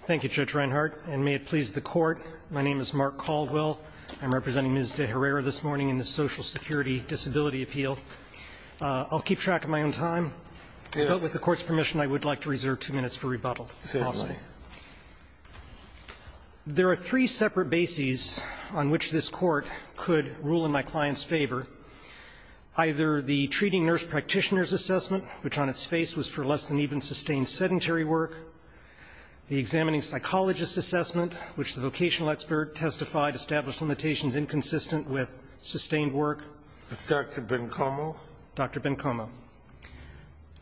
Thank you, Judge Reinhardt, and may it please the Court, my name is Mark Caldwell, I'm representing Ms. De Herrera this morning in the Social Security Disability Appeal. I'll keep track of my own time, but with the Court's permission I would like to reserve two minutes for rebuttal, possibly. There are three separate bases on which this Court could rule in my client's favor. Either the treating nurse practitioner's assessment, which on its face was for less than even sustained sedentary work. The examining psychologist's assessment, which the vocational expert testified established limitations inconsistent with sustained work. Dr. Bencomo. Dr. Bencomo.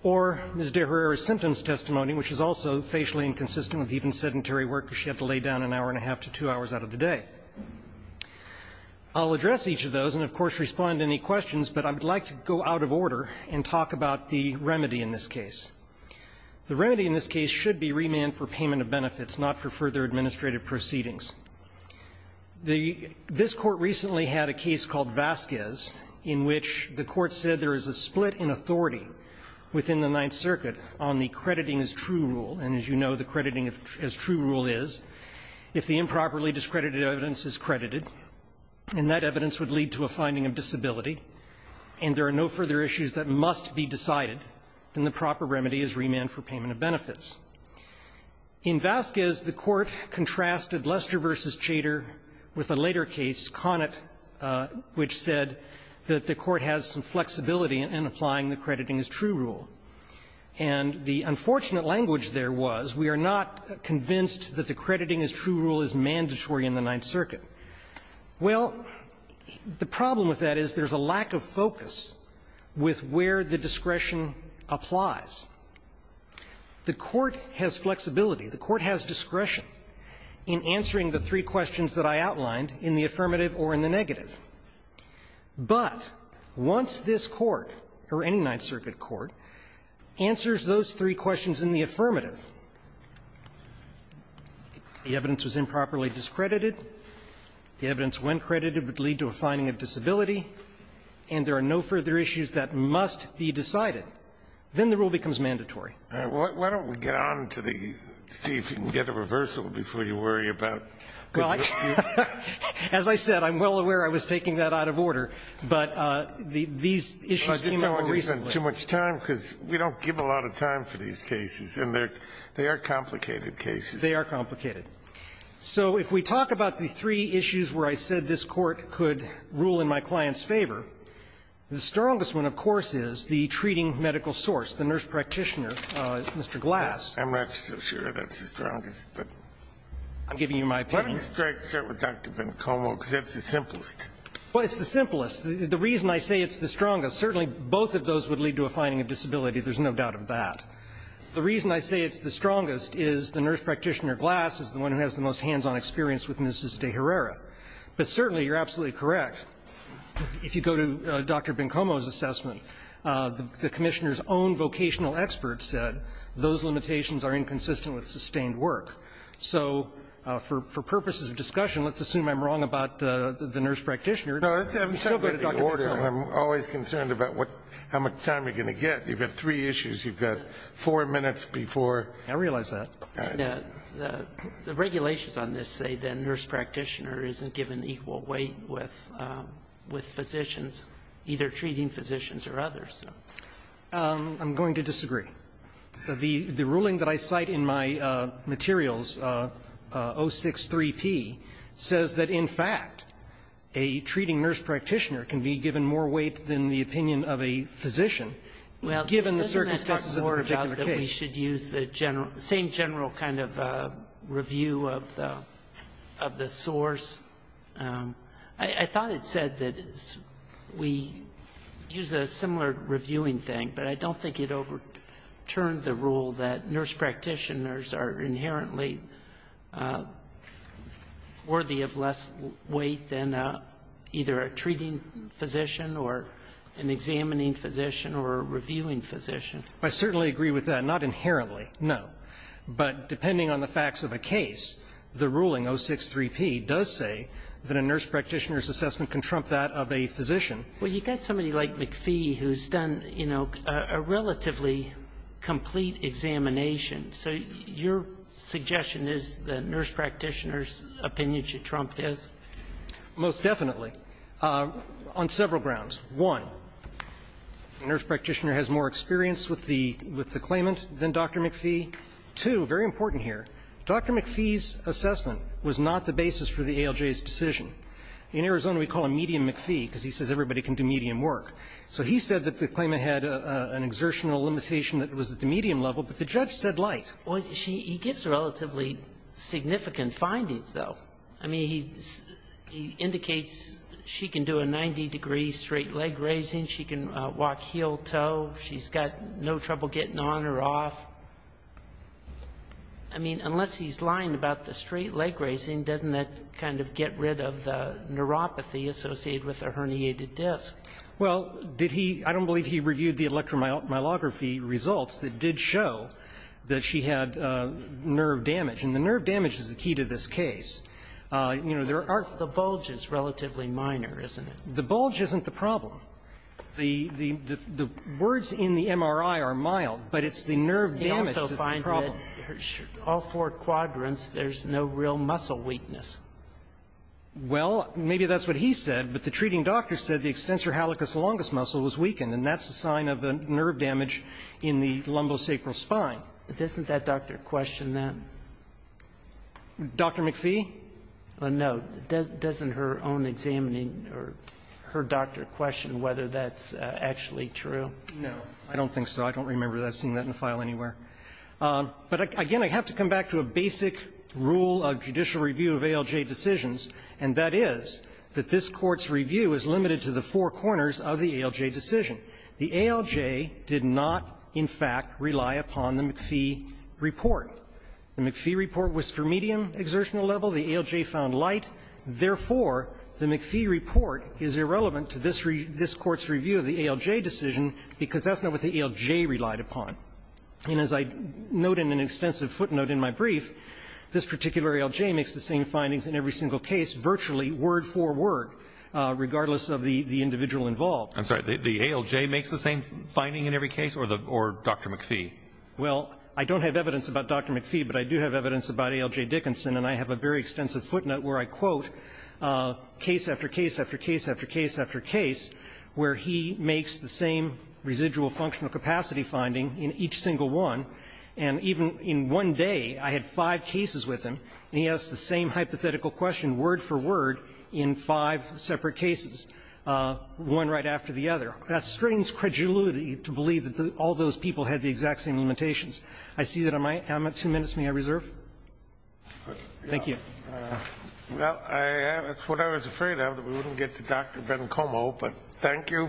Or Ms. De Herrera's symptoms testimony, which is also facially inconsistent with even sedentary work because she had to lay down an hour and a half to two hours out of the day. I'll address each of those and, of course, respond to any questions, but I would like to go out of order and talk about the remedy in this case. The remedy in this case should be remand for payment of benefits, not for further administrative proceedings. This Court recently had a case called Vasquez in which the Court said there is a split in authority within the Ninth Circuit on the crediting as true rule. And as you know, the crediting as true rule is if the improperly discredited evidence is credited, and that evidence would lead to a finding of disability, and there are no further issues that must be decided, then the proper remedy is remand for payment of benefits. In Vasquez, the Court contrasted Lester v. Chater with a later case, Conant, which said that the Court has some flexibility in applying the crediting as true rule. And the unfortunate language there was we are not convinced that the crediting as true rule is mandatory in the Ninth Circuit. Well, the problem with that is there is a lack of focus with where the discretion applies. The Court has flexibility. The Court has discretion in answering the three questions that I outlined in the affirmative or in the negative. But once this Court, or any Ninth Circuit court, answers those three questions in the affirmative, the evidence was improperly discredited, the evidence when credited would lead to a finding of disability, and there are no further issues that must be decided, then the rule becomes mandatory. Kennedy, why don't we get on to the see if you can get a reversal before you worry about the dispute? As I said, I'm well aware I was taking that out of order, but these issues came up more recently. We've given too much time, because we don't give a lot of time for these cases, and they are complicated cases. They are complicated. So if we talk about the three issues where I said this Court could rule in my client's favor, the strongest one, of course, is the treating medical source, the nurse practitioner, Mr. Glass. I'm not so sure that's the strongest, but I'm giving you my opinion. Why don't we start with Dr. Vencomo, because that's the simplest. Well, it's the simplest. The reason I say it's the strongest, certainly both of those would lead to a finding of disability. There's no doubt of that. The reason I say it's the strongest is the nurse practitioner, Glass, is the one who has the most hands-on experience with Ms. De Herrera. But certainly, you're absolutely correct. If you go to Dr. Vencomo's assessment, the Commissioner's own vocational expert said those limitations are inconsistent with sustained work. So for purposes of discussion, let's assume I'm wrong about the nurse practitioner. I'm always concerned about how much time you're going to get. You've got three issues. You've got four minutes before. I realize that. The regulations on this say the nurse practitioner isn't given equal weight with physicians, either treating physicians or others. I'm going to disagree. The ruling that I cite in my materials, 063P, says that, in fact, a treating nurse practitioner can be given more weight than the opinion of a physician, given the circumstances of the particular case. Well, doesn't that talk more about that we should use the same general kind of review of the source? I thought it said that we use a similar reviewing thing, but I don't think it over turned the rule that nurse practitioners are inherently worthy of less weight than either a treating physician or an examining physician or a reviewing physician. I certainly agree with that. Not inherently, no. But depending on the facts of a case, the ruling, 063P, does say that a nurse practitioner's assessment can trump that of a physician. Well, you've got somebody like McPhee who's done, you know, a relatively complete examination. So your suggestion is that nurse practitioners' opinion should trump his? Most definitely, on several grounds. One, the nurse practitioner has more experience with the claimant than Dr. McPhee. Two, very important here, Dr. McPhee's assessment was not the basis for the ALJ's decision. In Arizona, we call him Medium McPhee because he says everybody can do medium work. So he said that the claimant had an exertional limitation that was at the medium level, but the judge said like. Well, he gives relatively significant findings, though. I mean, he indicates she can do a 90-degree straight leg raising, she can walk heel toe, she's got no trouble getting on or off. I mean, unless he's lying about the straight leg raising, doesn't that kind of get rid of the neuropathy associated with a herniated disc? Well, did he – I don't believe he reviewed the electromyography results that did show that she had nerve damage. And the nerve damage is the key to this case. You know, there are – The bulge is relatively minor, isn't it? The bulge isn't the problem. The words in the MRI are mild, but it's the nerve damage that's the problem. He also finds that all four quadrants, there's no real muscle weakness. Well, maybe that's what he said, but the treating doctor said the extensor halicus longus muscle was weakened, and that's a sign of a nerve damage in the lumbosacral spine. But doesn't that doctor question that? Dr. McPhee? No. Doesn't her own examining or her doctor question whether that's actually true? No. I don't think so. I don't remember seeing that in a file anywhere. But, again, I have to come back to a basic rule of judicial review of ALJ decisions, and that is that this Court's review is limited to the four corners of the ALJ decision. The ALJ did not, in fact, rely upon the McPhee report. The McPhee report was for medium exertional level. The ALJ found light. Therefore, the McPhee report is irrelevant to this Court's review of the ALJ decision because that's not what the ALJ relied upon. And as I note in an extensive footnote in my brief, this particular ALJ makes the same findings in every single case, virtually word for word, regardless of the individual involved. I'm sorry. The ALJ makes the same finding in every case, or Dr. McPhee? Well, I don't have evidence about Dr. McPhee, but I do have evidence about ALJ Dickinson, and I have a very extensive footnote where I quote case after case after case after case after case where he makes the same residual functional capacity finding in each single one. And even in one day, I had five cases with him, and he asked the same hypothetical question word for word in five separate cases, one right after the other. That strains credulity to believe that all those people had the exact same limitations. I see that I'm at two minutes. May I reserve? Thank you. Well, that's what I was afraid of, that we wouldn't get to Dr. Bencomo, but thank you.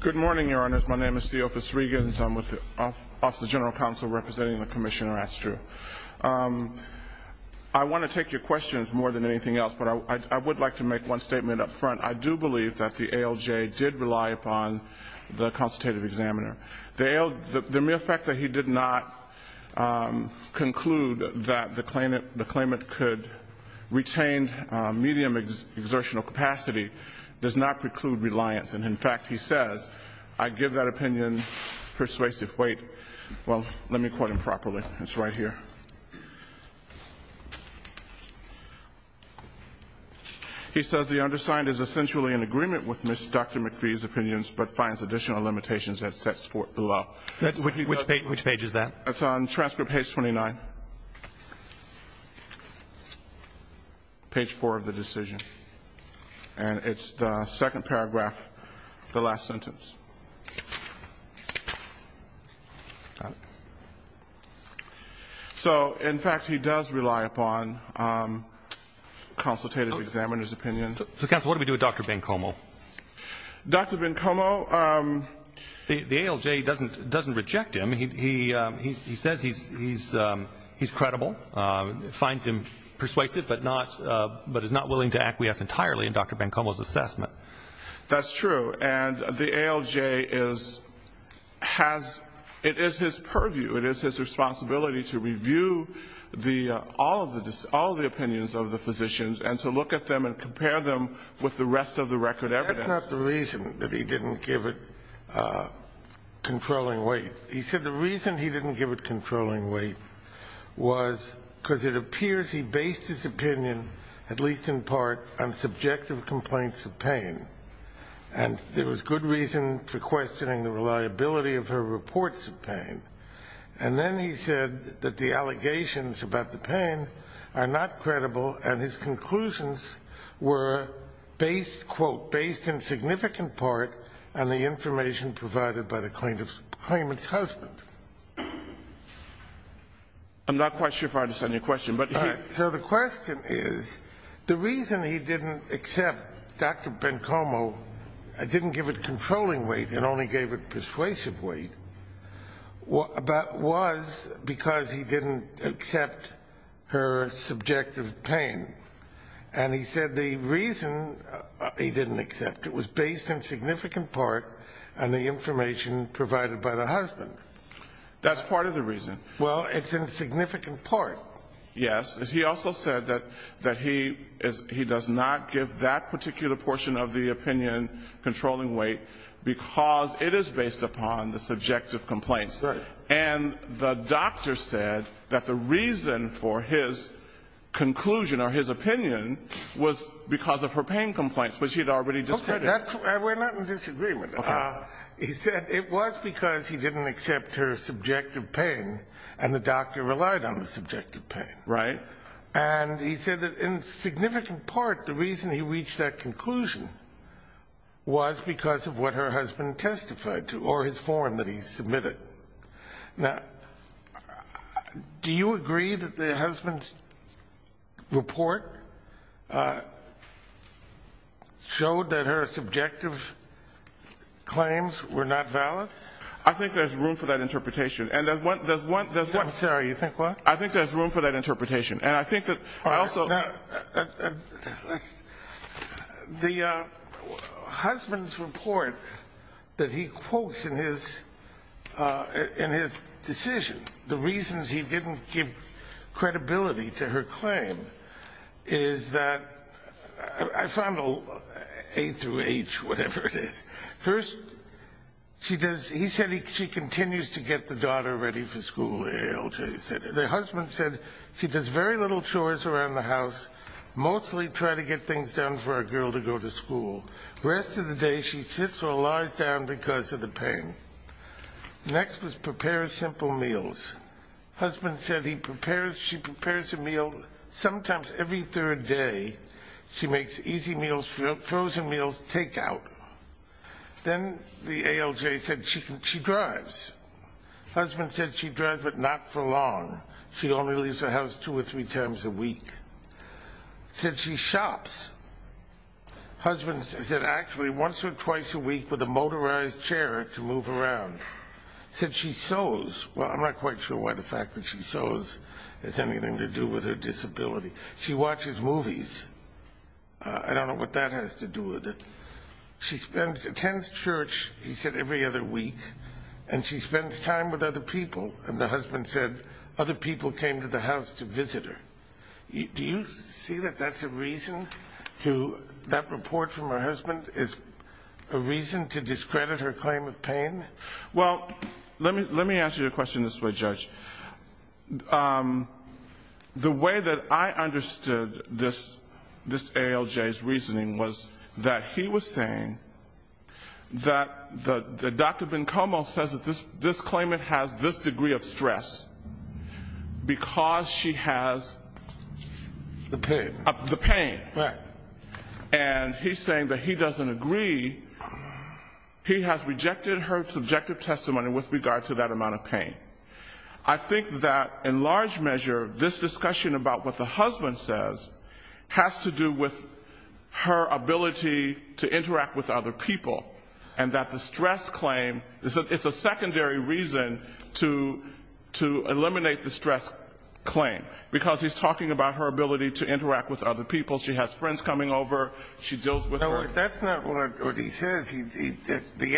Good morning, Your Honors. My name is Theofis Regans. I'm with the Office of General Counsel representing the Commissioner Astrew. I want to take your questions more than anything else, but I would like to make one statement up front. I do believe that the ALJ did rely upon the consultative examiner. The mere fact that he did not conclude that the claimant could retain medium exertional capacity does not preclude reliance. And in fact, he says, I give that opinion persuasive weight. Well, let me quote him properly. It's right here. He says, the undersigned is essentially in agreement with Dr. McPhee's opinions, but finds additional limitations that sets forth below. Which page is that? It's on transcript page 29, page 4 of the decision. And it's the second paragraph, the last sentence. So, in fact, he does rely upon consultative examiners' opinions. Counsel, what do we do with Dr. Bencomo? Dr. Bencomo, the ALJ doesn't reject him. He says he's credible. Finds him persuasive, but is not willing to acquiesce entirely in Dr. Bencomo's assessment. That's true. And the ALJ has, it is his purview, it is his responsibility to review all of the opinions of the physicians and to look at them and compare them with the rest of the record evidence. That's not the reason that he didn't give it controlling weight. He said the reason he didn't give it controlling weight was because it appears he based his opinion, at least in part, on subjective complaints of pain. And there was good reason for questioning the reliability of her reports of pain. And then he said that the allegations about the pain are not credible and his conclusions were based, quote, based in significant part on the information provided by the claimant's husband. I'm not quite sure if I understand your question. So the question is, the reason he didn't accept Dr. Bencomo, didn't give it controlling weight and only gave it persuasive weight, was because he didn't accept her subjective pain. And he said the reason he didn't accept it was based in significant part on the information provided by the husband. That's part of the reason. Well, it's in significant part. Yes. He also said that he does not give that particular portion of the opinion controlling weight because it is based upon the subjective complaints. Right. And the doctor said that the reason for his conclusion or his opinion was because of her pain complaints, which he had already discredited. We're not in disagreement. Okay. He said it was because he didn't accept her subjective pain and the doctor relied on the subjective pain. Right. And he said that in significant part, the reason he reached that conclusion was because of what her husband testified to or his form that he submitted. Now, do you agree that the husband's report showed that her subjective claims were not valid? I think there's room for that interpretation. And there's one, there's one, there's one. Sorry, you think what? I think there's room for that interpretation. And I think that I also the husband's report that he quotes in his in his decision. The reasons he didn't give credibility to her claim is that I found a through age, whatever it is. First, she does. He said he continues to get the daughter ready for school. The husband said he does very little chores around the house, mostly try to get things done for a girl to go to school. Rest of the day, she sits or lies down because of the pain. Next was prepare simple meals. Husband said he prepares. She prepares a meal. Sometimes every third day, she makes easy meals, frozen meals, take out. Then the ALJ said she can. She drives. Husband said she drives but not for long. She only leaves the house two or three times a week. Said she shops. Husband said actually once or twice a week with a motorized chair to move around. Said she sews. Well, I'm not quite sure why the fact that she sews has anything to do with her disability. She watches movies. I don't know what that has to do with it. She spends, attends church, he said, every other week. And she spends time with other people. And the husband said other people came to the house to visit her. Do you see that that's a reason to, that report from her husband is a reason to discredit her claim of pain? Well, let me ask you a question this way, Judge. The way that I understood this ALJ's reasoning was that he was saying that Dr. Bencomo says that this claimant has this degree of stress because she has. The pain. The pain. Right. And he's saying that he doesn't agree. He has rejected her subjective testimony with regard to that amount of pain. I think that in large measure, this discussion about what the husband says has to do with her ability to interact with other people. And that the stress claim, it's a secondary reason to eliminate the stress claim. Because he's talking about her ability to interact with other people. She has friends coming over. She deals with her. That's not what he says. The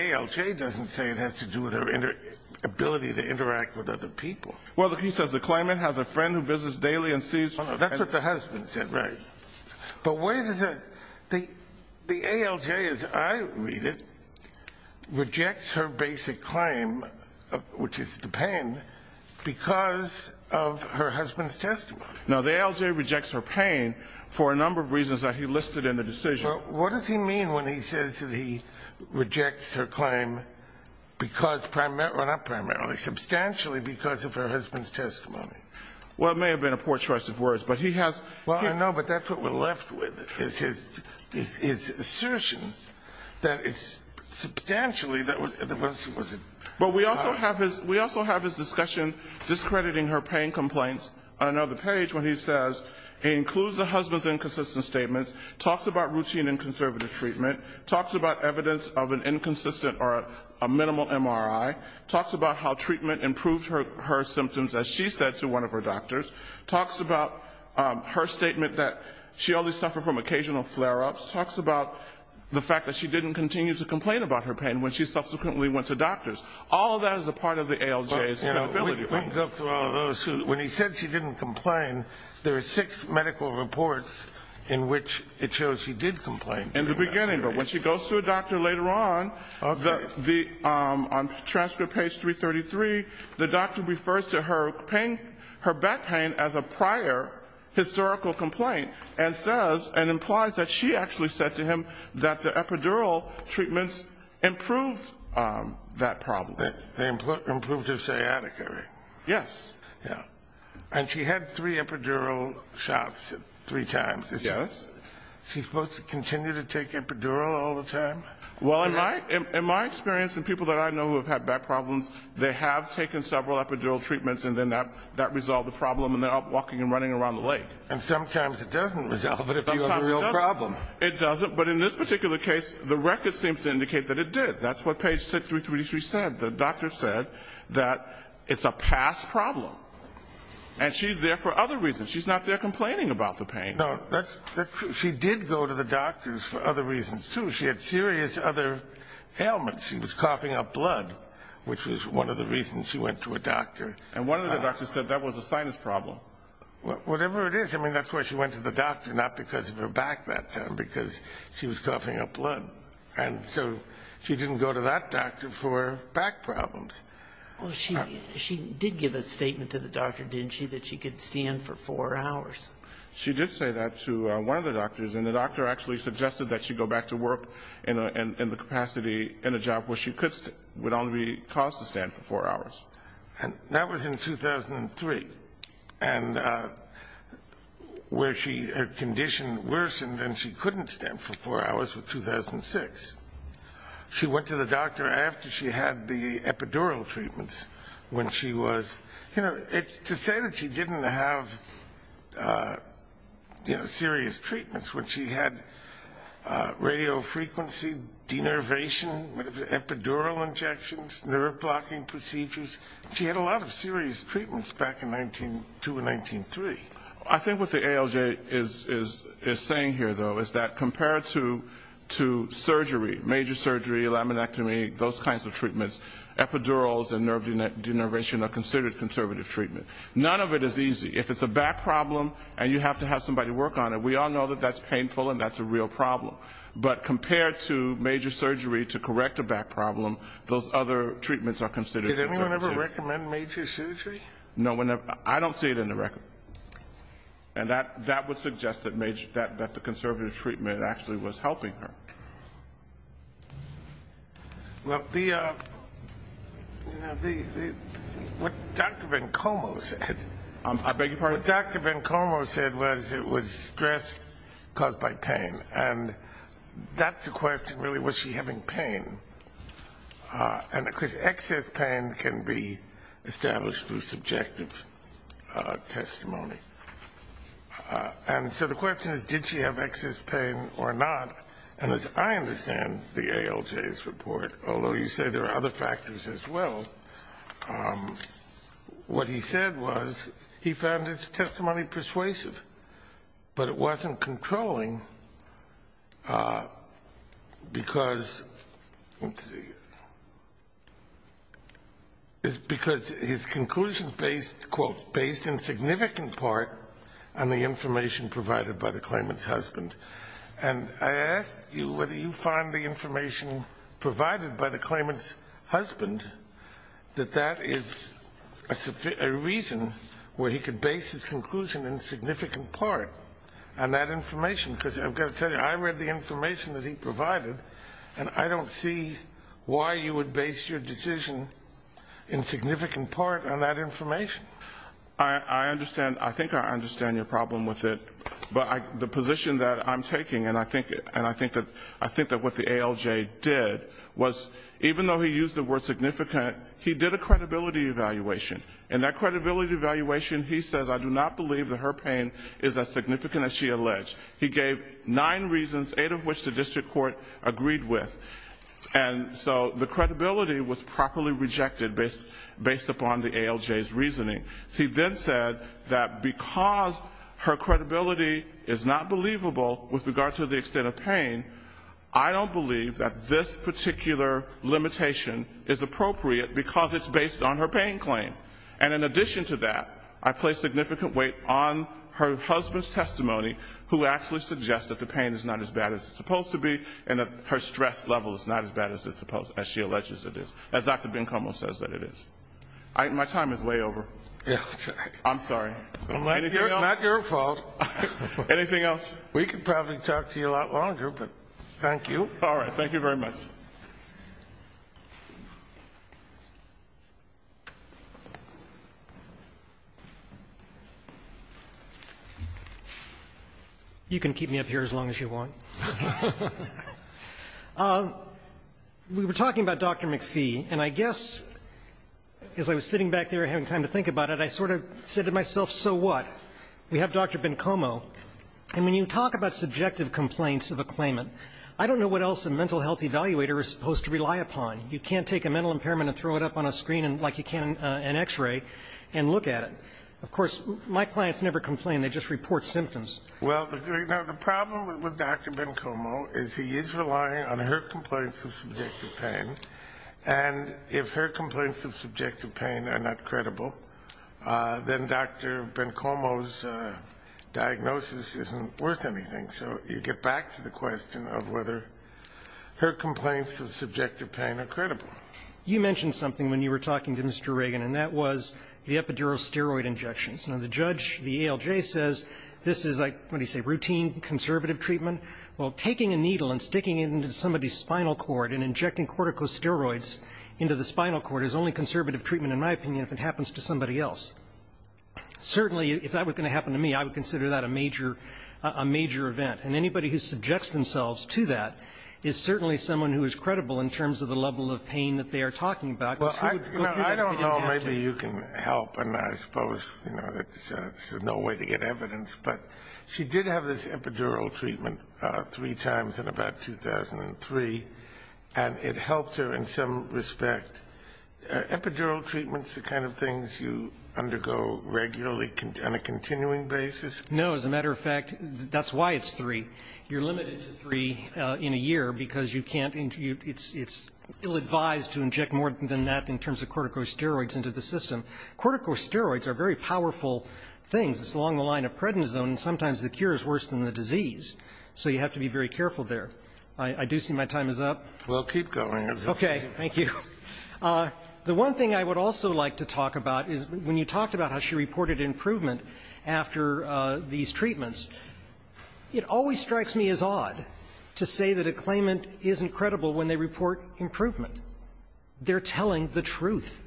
ALJ doesn't say it has to do with her ability to interact with other people. Well, he says the claimant has a friend who visits daily and sees. That's what the husband said. Right. But where does it, the ALJ, as I read it, rejects her basic claim, which is the pain, because of her husband's testimony. Now, the ALJ rejects her pain for a number of reasons that he listed in the decision. What does he mean when he says that he rejects her claim because primarily, not primarily, substantially because of her husband's testimony? Well, it may have been a poor choice of words. But he has. Well, I know. But that's what we're left with, is his assertion that it's substantially. But we also have his discussion discrediting her pain complaints. I know the page when he says he includes the husband's inconsistent statements, talks about routine and conservative treatment, talks about evidence of an inconsistent or a minimal MRI, talks about how treatment improved her symptoms, as she said to one of her doctors, talks about her statement that she only suffered from occasional flare-ups, talks about the fact that she didn't continue to complain about her pain when she subsequently went to doctors. All of that is a part of the ALJ's credibility claims. When he said she didn't complain, there are six medical reports in which it shows she did complain. In the beginning. But when she goes to a doctor later on, on transcript page 333, the doctor refers to her back pain as a prior historical complaint and says, and implies that she actually said to him that the epidural treatments improved that problem. They improved her sciatica, right? Yes. Yeah. And she had three epidural shots three times. Yes. Is she supposed to continue to take epidural all the time? Well, in my experience and people that I know who have had back problems, they have taken several epidural treatments and then that resolved the problem and they're out walking and running around the lake. And sometimes it doesn't resolve it if you have a real problem. It doesn't. But in this particular case, the record seems to indicate that it did. That's what page 6333 said. The doctor said that it's a past problem. And she's there for other reasons. She's not there complaining about the pain. No, that's true. She did go to the doctors for other reasons, too. She had serious other ailments. She was coughing up blood, which was one of the reasons she went to a doctor. And one of the doctors said that was a sinus problem. Whatever it is, I mean, that's why she went to the doctor, not because of her back that time, because she was coughing up blood. And so she didn't go to that doctor for back problems. Well, she did give a statement to the doctor, didn't she, that she could stand for four hours. She did say that to one of the doctors, and the doctor actually suggested that she go back to work in the capacity in a job where she would only be caused to stand for four hours. And that was in 2003, and where her condition worsened and she couldn't stand for four hours was 2006. She went to the doctor after she had the epidural treatments when she was, you know, to say that she didn't have serious treatments when she had radiofrequency, denervation, epidural injections, nerve-blocking procedures. She had a lot of serious treatments back in 1902 and 1903. I think what the ALJ is saying here, though, is that compared to surgery, major surgery, laminectomy, those kinds of treatments, epidurals and nerve denervation are considered conservative treatment. None of it is easy. If it's a back problem and you have to have somebody work on it, we all know that that's painful and that's a real problem. But compared to major surgery to correct a back problem, those other treatments are considered conservative. Did anyone ever recommend major surgery? No one ever. I don't see it in the record. And that would suggest that the conservative treatment actually was helping her. Well, the, you know, what Dr. Vencomo said. I beg your pardon? What Dr. Vencomo said was it was stress caused by pain, and that's the question really, was she having pain? And, of course, excess pain can be established through subjective testimony. And so the question is, did she have excess pain or not? And as I understand the ALJ's report, although you say there are other factors as well, what he said was he found his testimony persuasive, but it wasn't controlling because, let's see, because his conclusions based, quote, based in significant part on the information provided by the claimant's husband. And I asked you whether you find the information provided by the claimant's husband, that that is a reason where he could base his conclusion in significant part on that information. Because I've got to tell you, I read the information that he provided, and I don't see why you would base your decision in significant part on that information. I understand. I think I understand your problem with it. But the position that I'm taking, and I think that what the ALJ did was, even though he used the word significant, he did a credibility evaluation. In that credibility evaluation, he says, I do not believe that her pain is as significant as she alleged. He gave nine reasons, eight of which the district court agreed with. And so the credibility was properly rejected based upon the ALJ's reasoning. He then said that because her credibility is not believable with regard to the extent of pain, I don't believe that this particular limitation is appropriate because it's based on her pain claim. And in addition to that, I place significant weight on her husband's testimony, who actually suggests that the pain is not as bad as it's supposed to be and that her stress level is not as bad as she alleges it is, as Dr. Bencomo says that it is. My time is way over. I'm sorry. Not your fault. Anything else? We could probably talk to you a lot longer, but thank you. All right. Thank you very much. You can keep me up here as long as you want. We were talking about Dr. McPhee, and I guess as I was sitting back there having time to think about it, I sort of said to myself, so what? We have Dr. Bencomo. And when you talk about subjective complaints of a claimant, I don't know what else a mental health evaluator is supposed to rely upon. You can't take a mental impairment and throw it up on a screen like you can an X-ray and look at it. Of course, my clients never complain. They just report symptoms. Well, the problem with Dr. Bencomo is he is relying on her complaints of subjective pain, and if her complaints of subjective pain are not credible, then Dr. Bencomo's diagnosis isn't worth anything. So you get back to the question of whether her complaints of subjective pain are credible. You mentioned something when you were talking to Mr. Reagan, and that was the epidural steroid injections. Now, the judge, the ALJ, says this is like, what did he say, routine conservative treatment? Well, taking a needle and sticking it into somebody's spinal cord and injecting corticosteroids into the spinal cord is only conservative treatment, in my opinion, if it happens to somebody else. Certainly, if that were going to happen to me, I would consider that a major event. And anybody who subjects themselves to that is certainly someone who is credible in terms of the level of pain that they are talking about. Well, I don't know. Maybe you can help, and I suppose there's no way to get evidence. But she did have this epidural treatment three times in about 2003, and it helped her in some respect. Epidural treatment is the kind of things you undergo regularly on a continuing basis? No. As a matter of fact, that's why it's three. You're limited to three in a year, because you can't intrude. It's ill-advised to inject more than that in terms of corticosteroids into the system. Corticosteroids are very powerful things. It's along the line of prednisone, and sometimes the cure is worse than the disease. So you have to be very careful there. I do see my time is up. We'll keep going. Okay. Thank you. The one thing I would also like to talk about is when you talked about how she reported improvement after these treatments, it always strikes me as odd to say that a claimant isn't credible when they report improvement. They're telling the truth.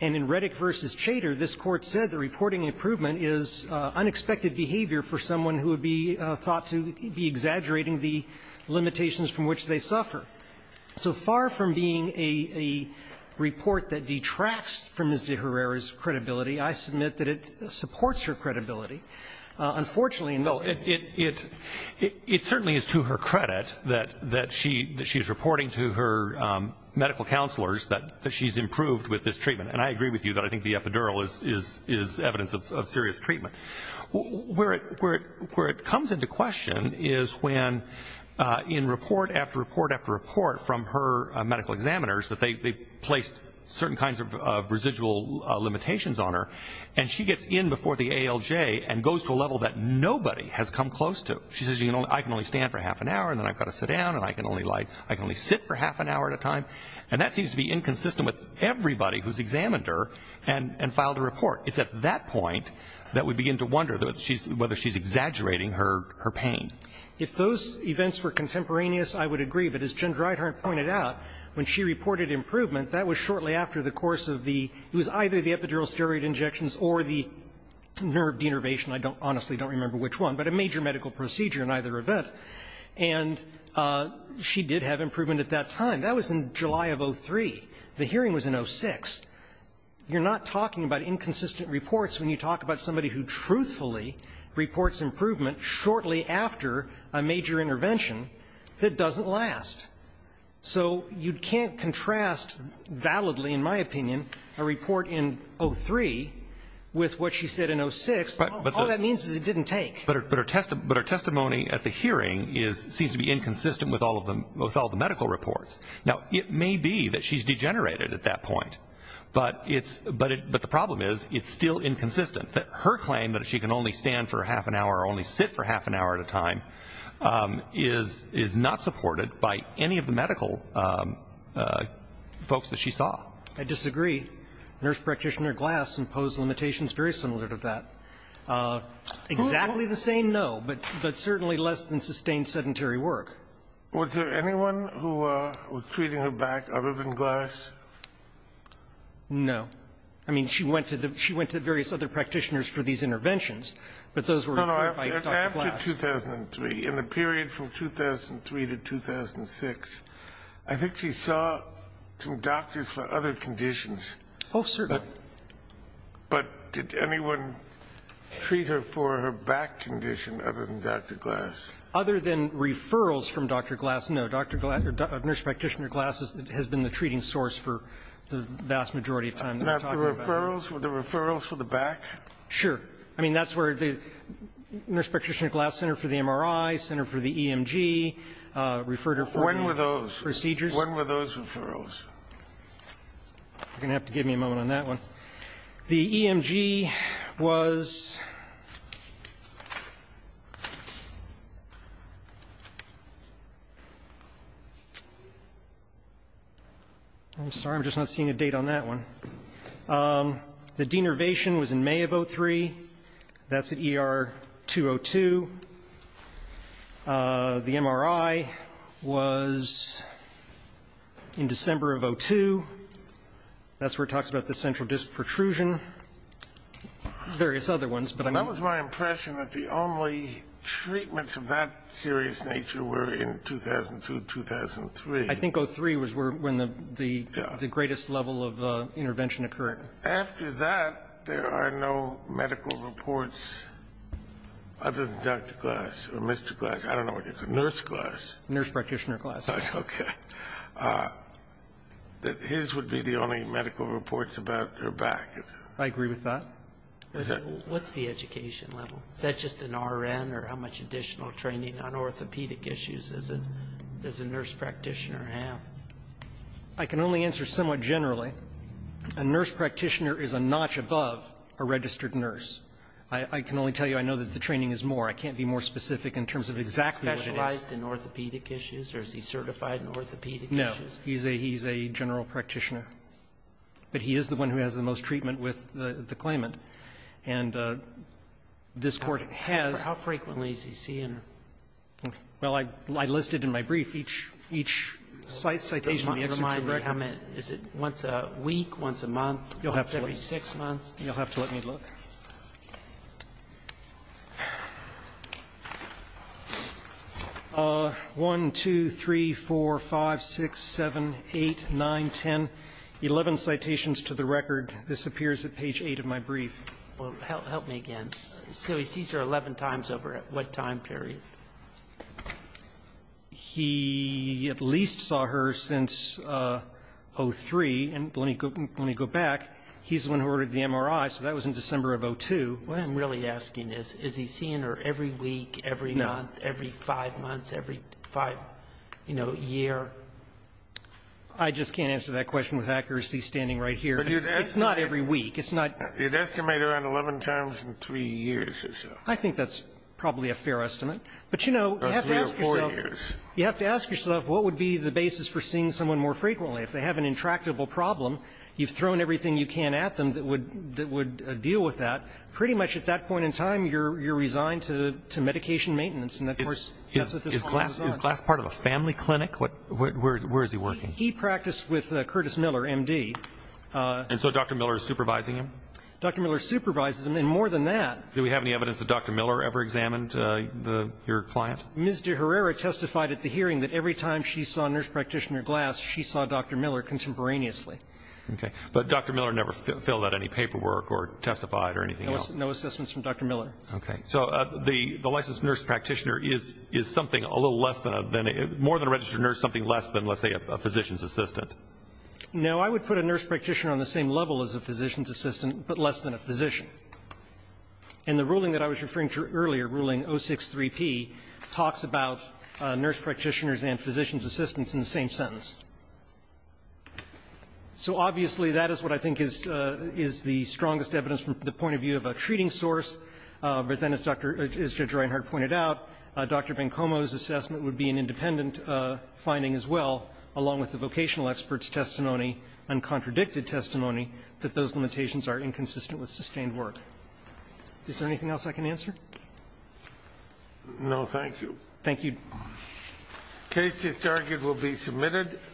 And in Reddick v. Chater, this Court said that reporting improvement is unexpected behavior for someone who would be thought to be exaggerating the limitations from which they suffer. So far from being a report that detracts from Ms. de Herrera's credibility, I submit that it supports her credibility. Unfortunately, in this case the claimant is not. No. It certainly is to her credit that she's reporting to her medical counselors that she's improved with this treatment. And I agree with you that I think the epidural is evidence of serious treatment. Where it comes into question is when in report after report after report from her medical examiners that they placed certain kinds of residual limitations on her, and she gets in before the ALJ and goes to a level that nobody has come close to. She says, I can only stand for half an hour, and then I've got to sit down, and I can only sit for half an hour at a time. And that seems to be inconsistent with everybody who's examined her and filed a report. It's at that point that we begin to wonder whether she's exaggerating her pain. If those events were contemporaneous, I would agree. But as Jen Dreithardt pointed out, when she reported improvement, that was shortly after the course of the – it was either the epidural steroid injections or the nerve denervation. I honestly don't remember which one, but a major medical procedure in either event. And she did have improvement at that time. That was in July of 2003. The hearing was in 2006. You're not talking about inconsistent reports when you talk about somebody who truthfully reports improvement shortly after a major intervention that doesn't last. So you can't contrast validly, in my opinion, a report in 2003 with what she said in 2006. All that means is it didn't take. But her testimony at the hearing seems to be inconsistent with all the medical reports. Now, it may be that she's degenerated at that point, but the problem is it's still inconsistent. Her claim that she can only stand for half an hour or only sit for half an hour at a time is not supported by any of the medical folks that she saw. I disagree. Nurse practitioner Glass imposed limitations very similar to that. Exactly the same, no, but certainly less than sustained sedentary work. Was there anyone who was treating her back other than Glass? No. I mean, she went to various other practitioners for these interventions, but those were referred by Dr. Glass. After 2003, in the period from 2003 to 2006, I think she saw some doctors for other conditions. Oh, certainly. But did anyone treat her for her back condition other than Dr. Glass? Other than referrals from Dr. Glass, no. Nurse practitioner Glass has been the treating source for the vast majority of time that we're talking about. Not the referrals? Were the referrals for the back? Sure. I mean, that's where the nurse practitioner Glass, Center for the MRI, Center for the EMG, referred her for procedures. When were those? When were those referrals? You're going to have to give me a moment on that one. The EMG was ‑‑ I'm sorry, I'm just not seeing a date on that one. The denervation was in May of 2003. That's at ER 202. The MRI was in December of 2002. That's where it talks about the central disc protrusion. Various other ones. That was my impression that the only treatments of that serious nature were in 2002, 2003. I think 2003 was when the greatest level of intervention occurred. After that, there are no medical reports other than Dr. Glass or Mr. Glass. I don't know what you call him. Nurse Glass. Nurse practitioner Glass. Okay. His would be the only medical reports about her back. I agree with that. What's the education level? Is that just an RN or how much additional training on orthopedic issues does a nurse practitioner have? I can only answer somewhat generally. A nurse practitioner is a notch above a registered nurse. I can only tell you I know that the training is more. I can't be more specific in terms of exactly what it is. Is he specialized in orthopedic issues or is he certified in orthopedic issues? No. He's a general practitioner. But he is the one who has the most treatment with the claimant. And this Court has ‑‑ How frequently is he seen? Is it once a week, once a month, every six months? You'll have to let me look. 1, 2, 3, 4, 5, 6, 7, 8, 9, 10, 11 citations to the record. This appears at page 8 of my brief. Help me again. So he sees her 11 times over what time period? He at least saw her since 03. And let me go back. He's the one who ordered the MRI, so that was in December of 02. What I'm really asking is, is he seeing her every week, every month, every five months, every five, you know, year? I just can't answer that question with accuracy standing right here. It's not every week. It's not ‑‑ You'd estimate around 11 times in three years or so. I think that's probably a fair estimate. But, you know, you have to ask yourself what would be the basis for seeing someone more frequently. If they have an intractable problem, you've thrown everything you can at them that would deal with that. Pretty much at that point in time, you're resigned to medication maintenance. Is Glass part of a family clinic? Where is he working? He practiced with Curtis Miller, M.D. And so Dr. Miller is supervising him? Dr. Miller supervises him. And more than that Do we have any evidence that Dr. Miller ever examined your client? Ms. De Herrera testified at the hearing that every time she saw nurse practitioner Glass, she saw Dr. Miller contemporaneously. Okay. But Dr. Miller never filled out any paperwork or testified or anything else? No assessments from Dr. Miller. Okay. So the licensed nurse practitioner is something a little less than a ‑‑ more than a registered nurse, something less than, let's say, a physician's assistant? No. I would put a nurse practitioner on the same level as a physician's assistant, but less than a physician. And the ruling that I was referring to earlier, Ruling 063P, talks about nurse practitioners and physician's assistants in the same sentence. So obviously, that is what I think is the strongest evidence from the point of view of a treating source. But then, as Judge Reinhart pointed out, Dr. Bencomo's assessment would be an independent finding as well, along with the vocational experts' testimony and contradicted testimony, that those limitations are inconsistent with sustained work. Is there anything else I can answer? No. Thank you. Thank you. The case is argued will be submitted.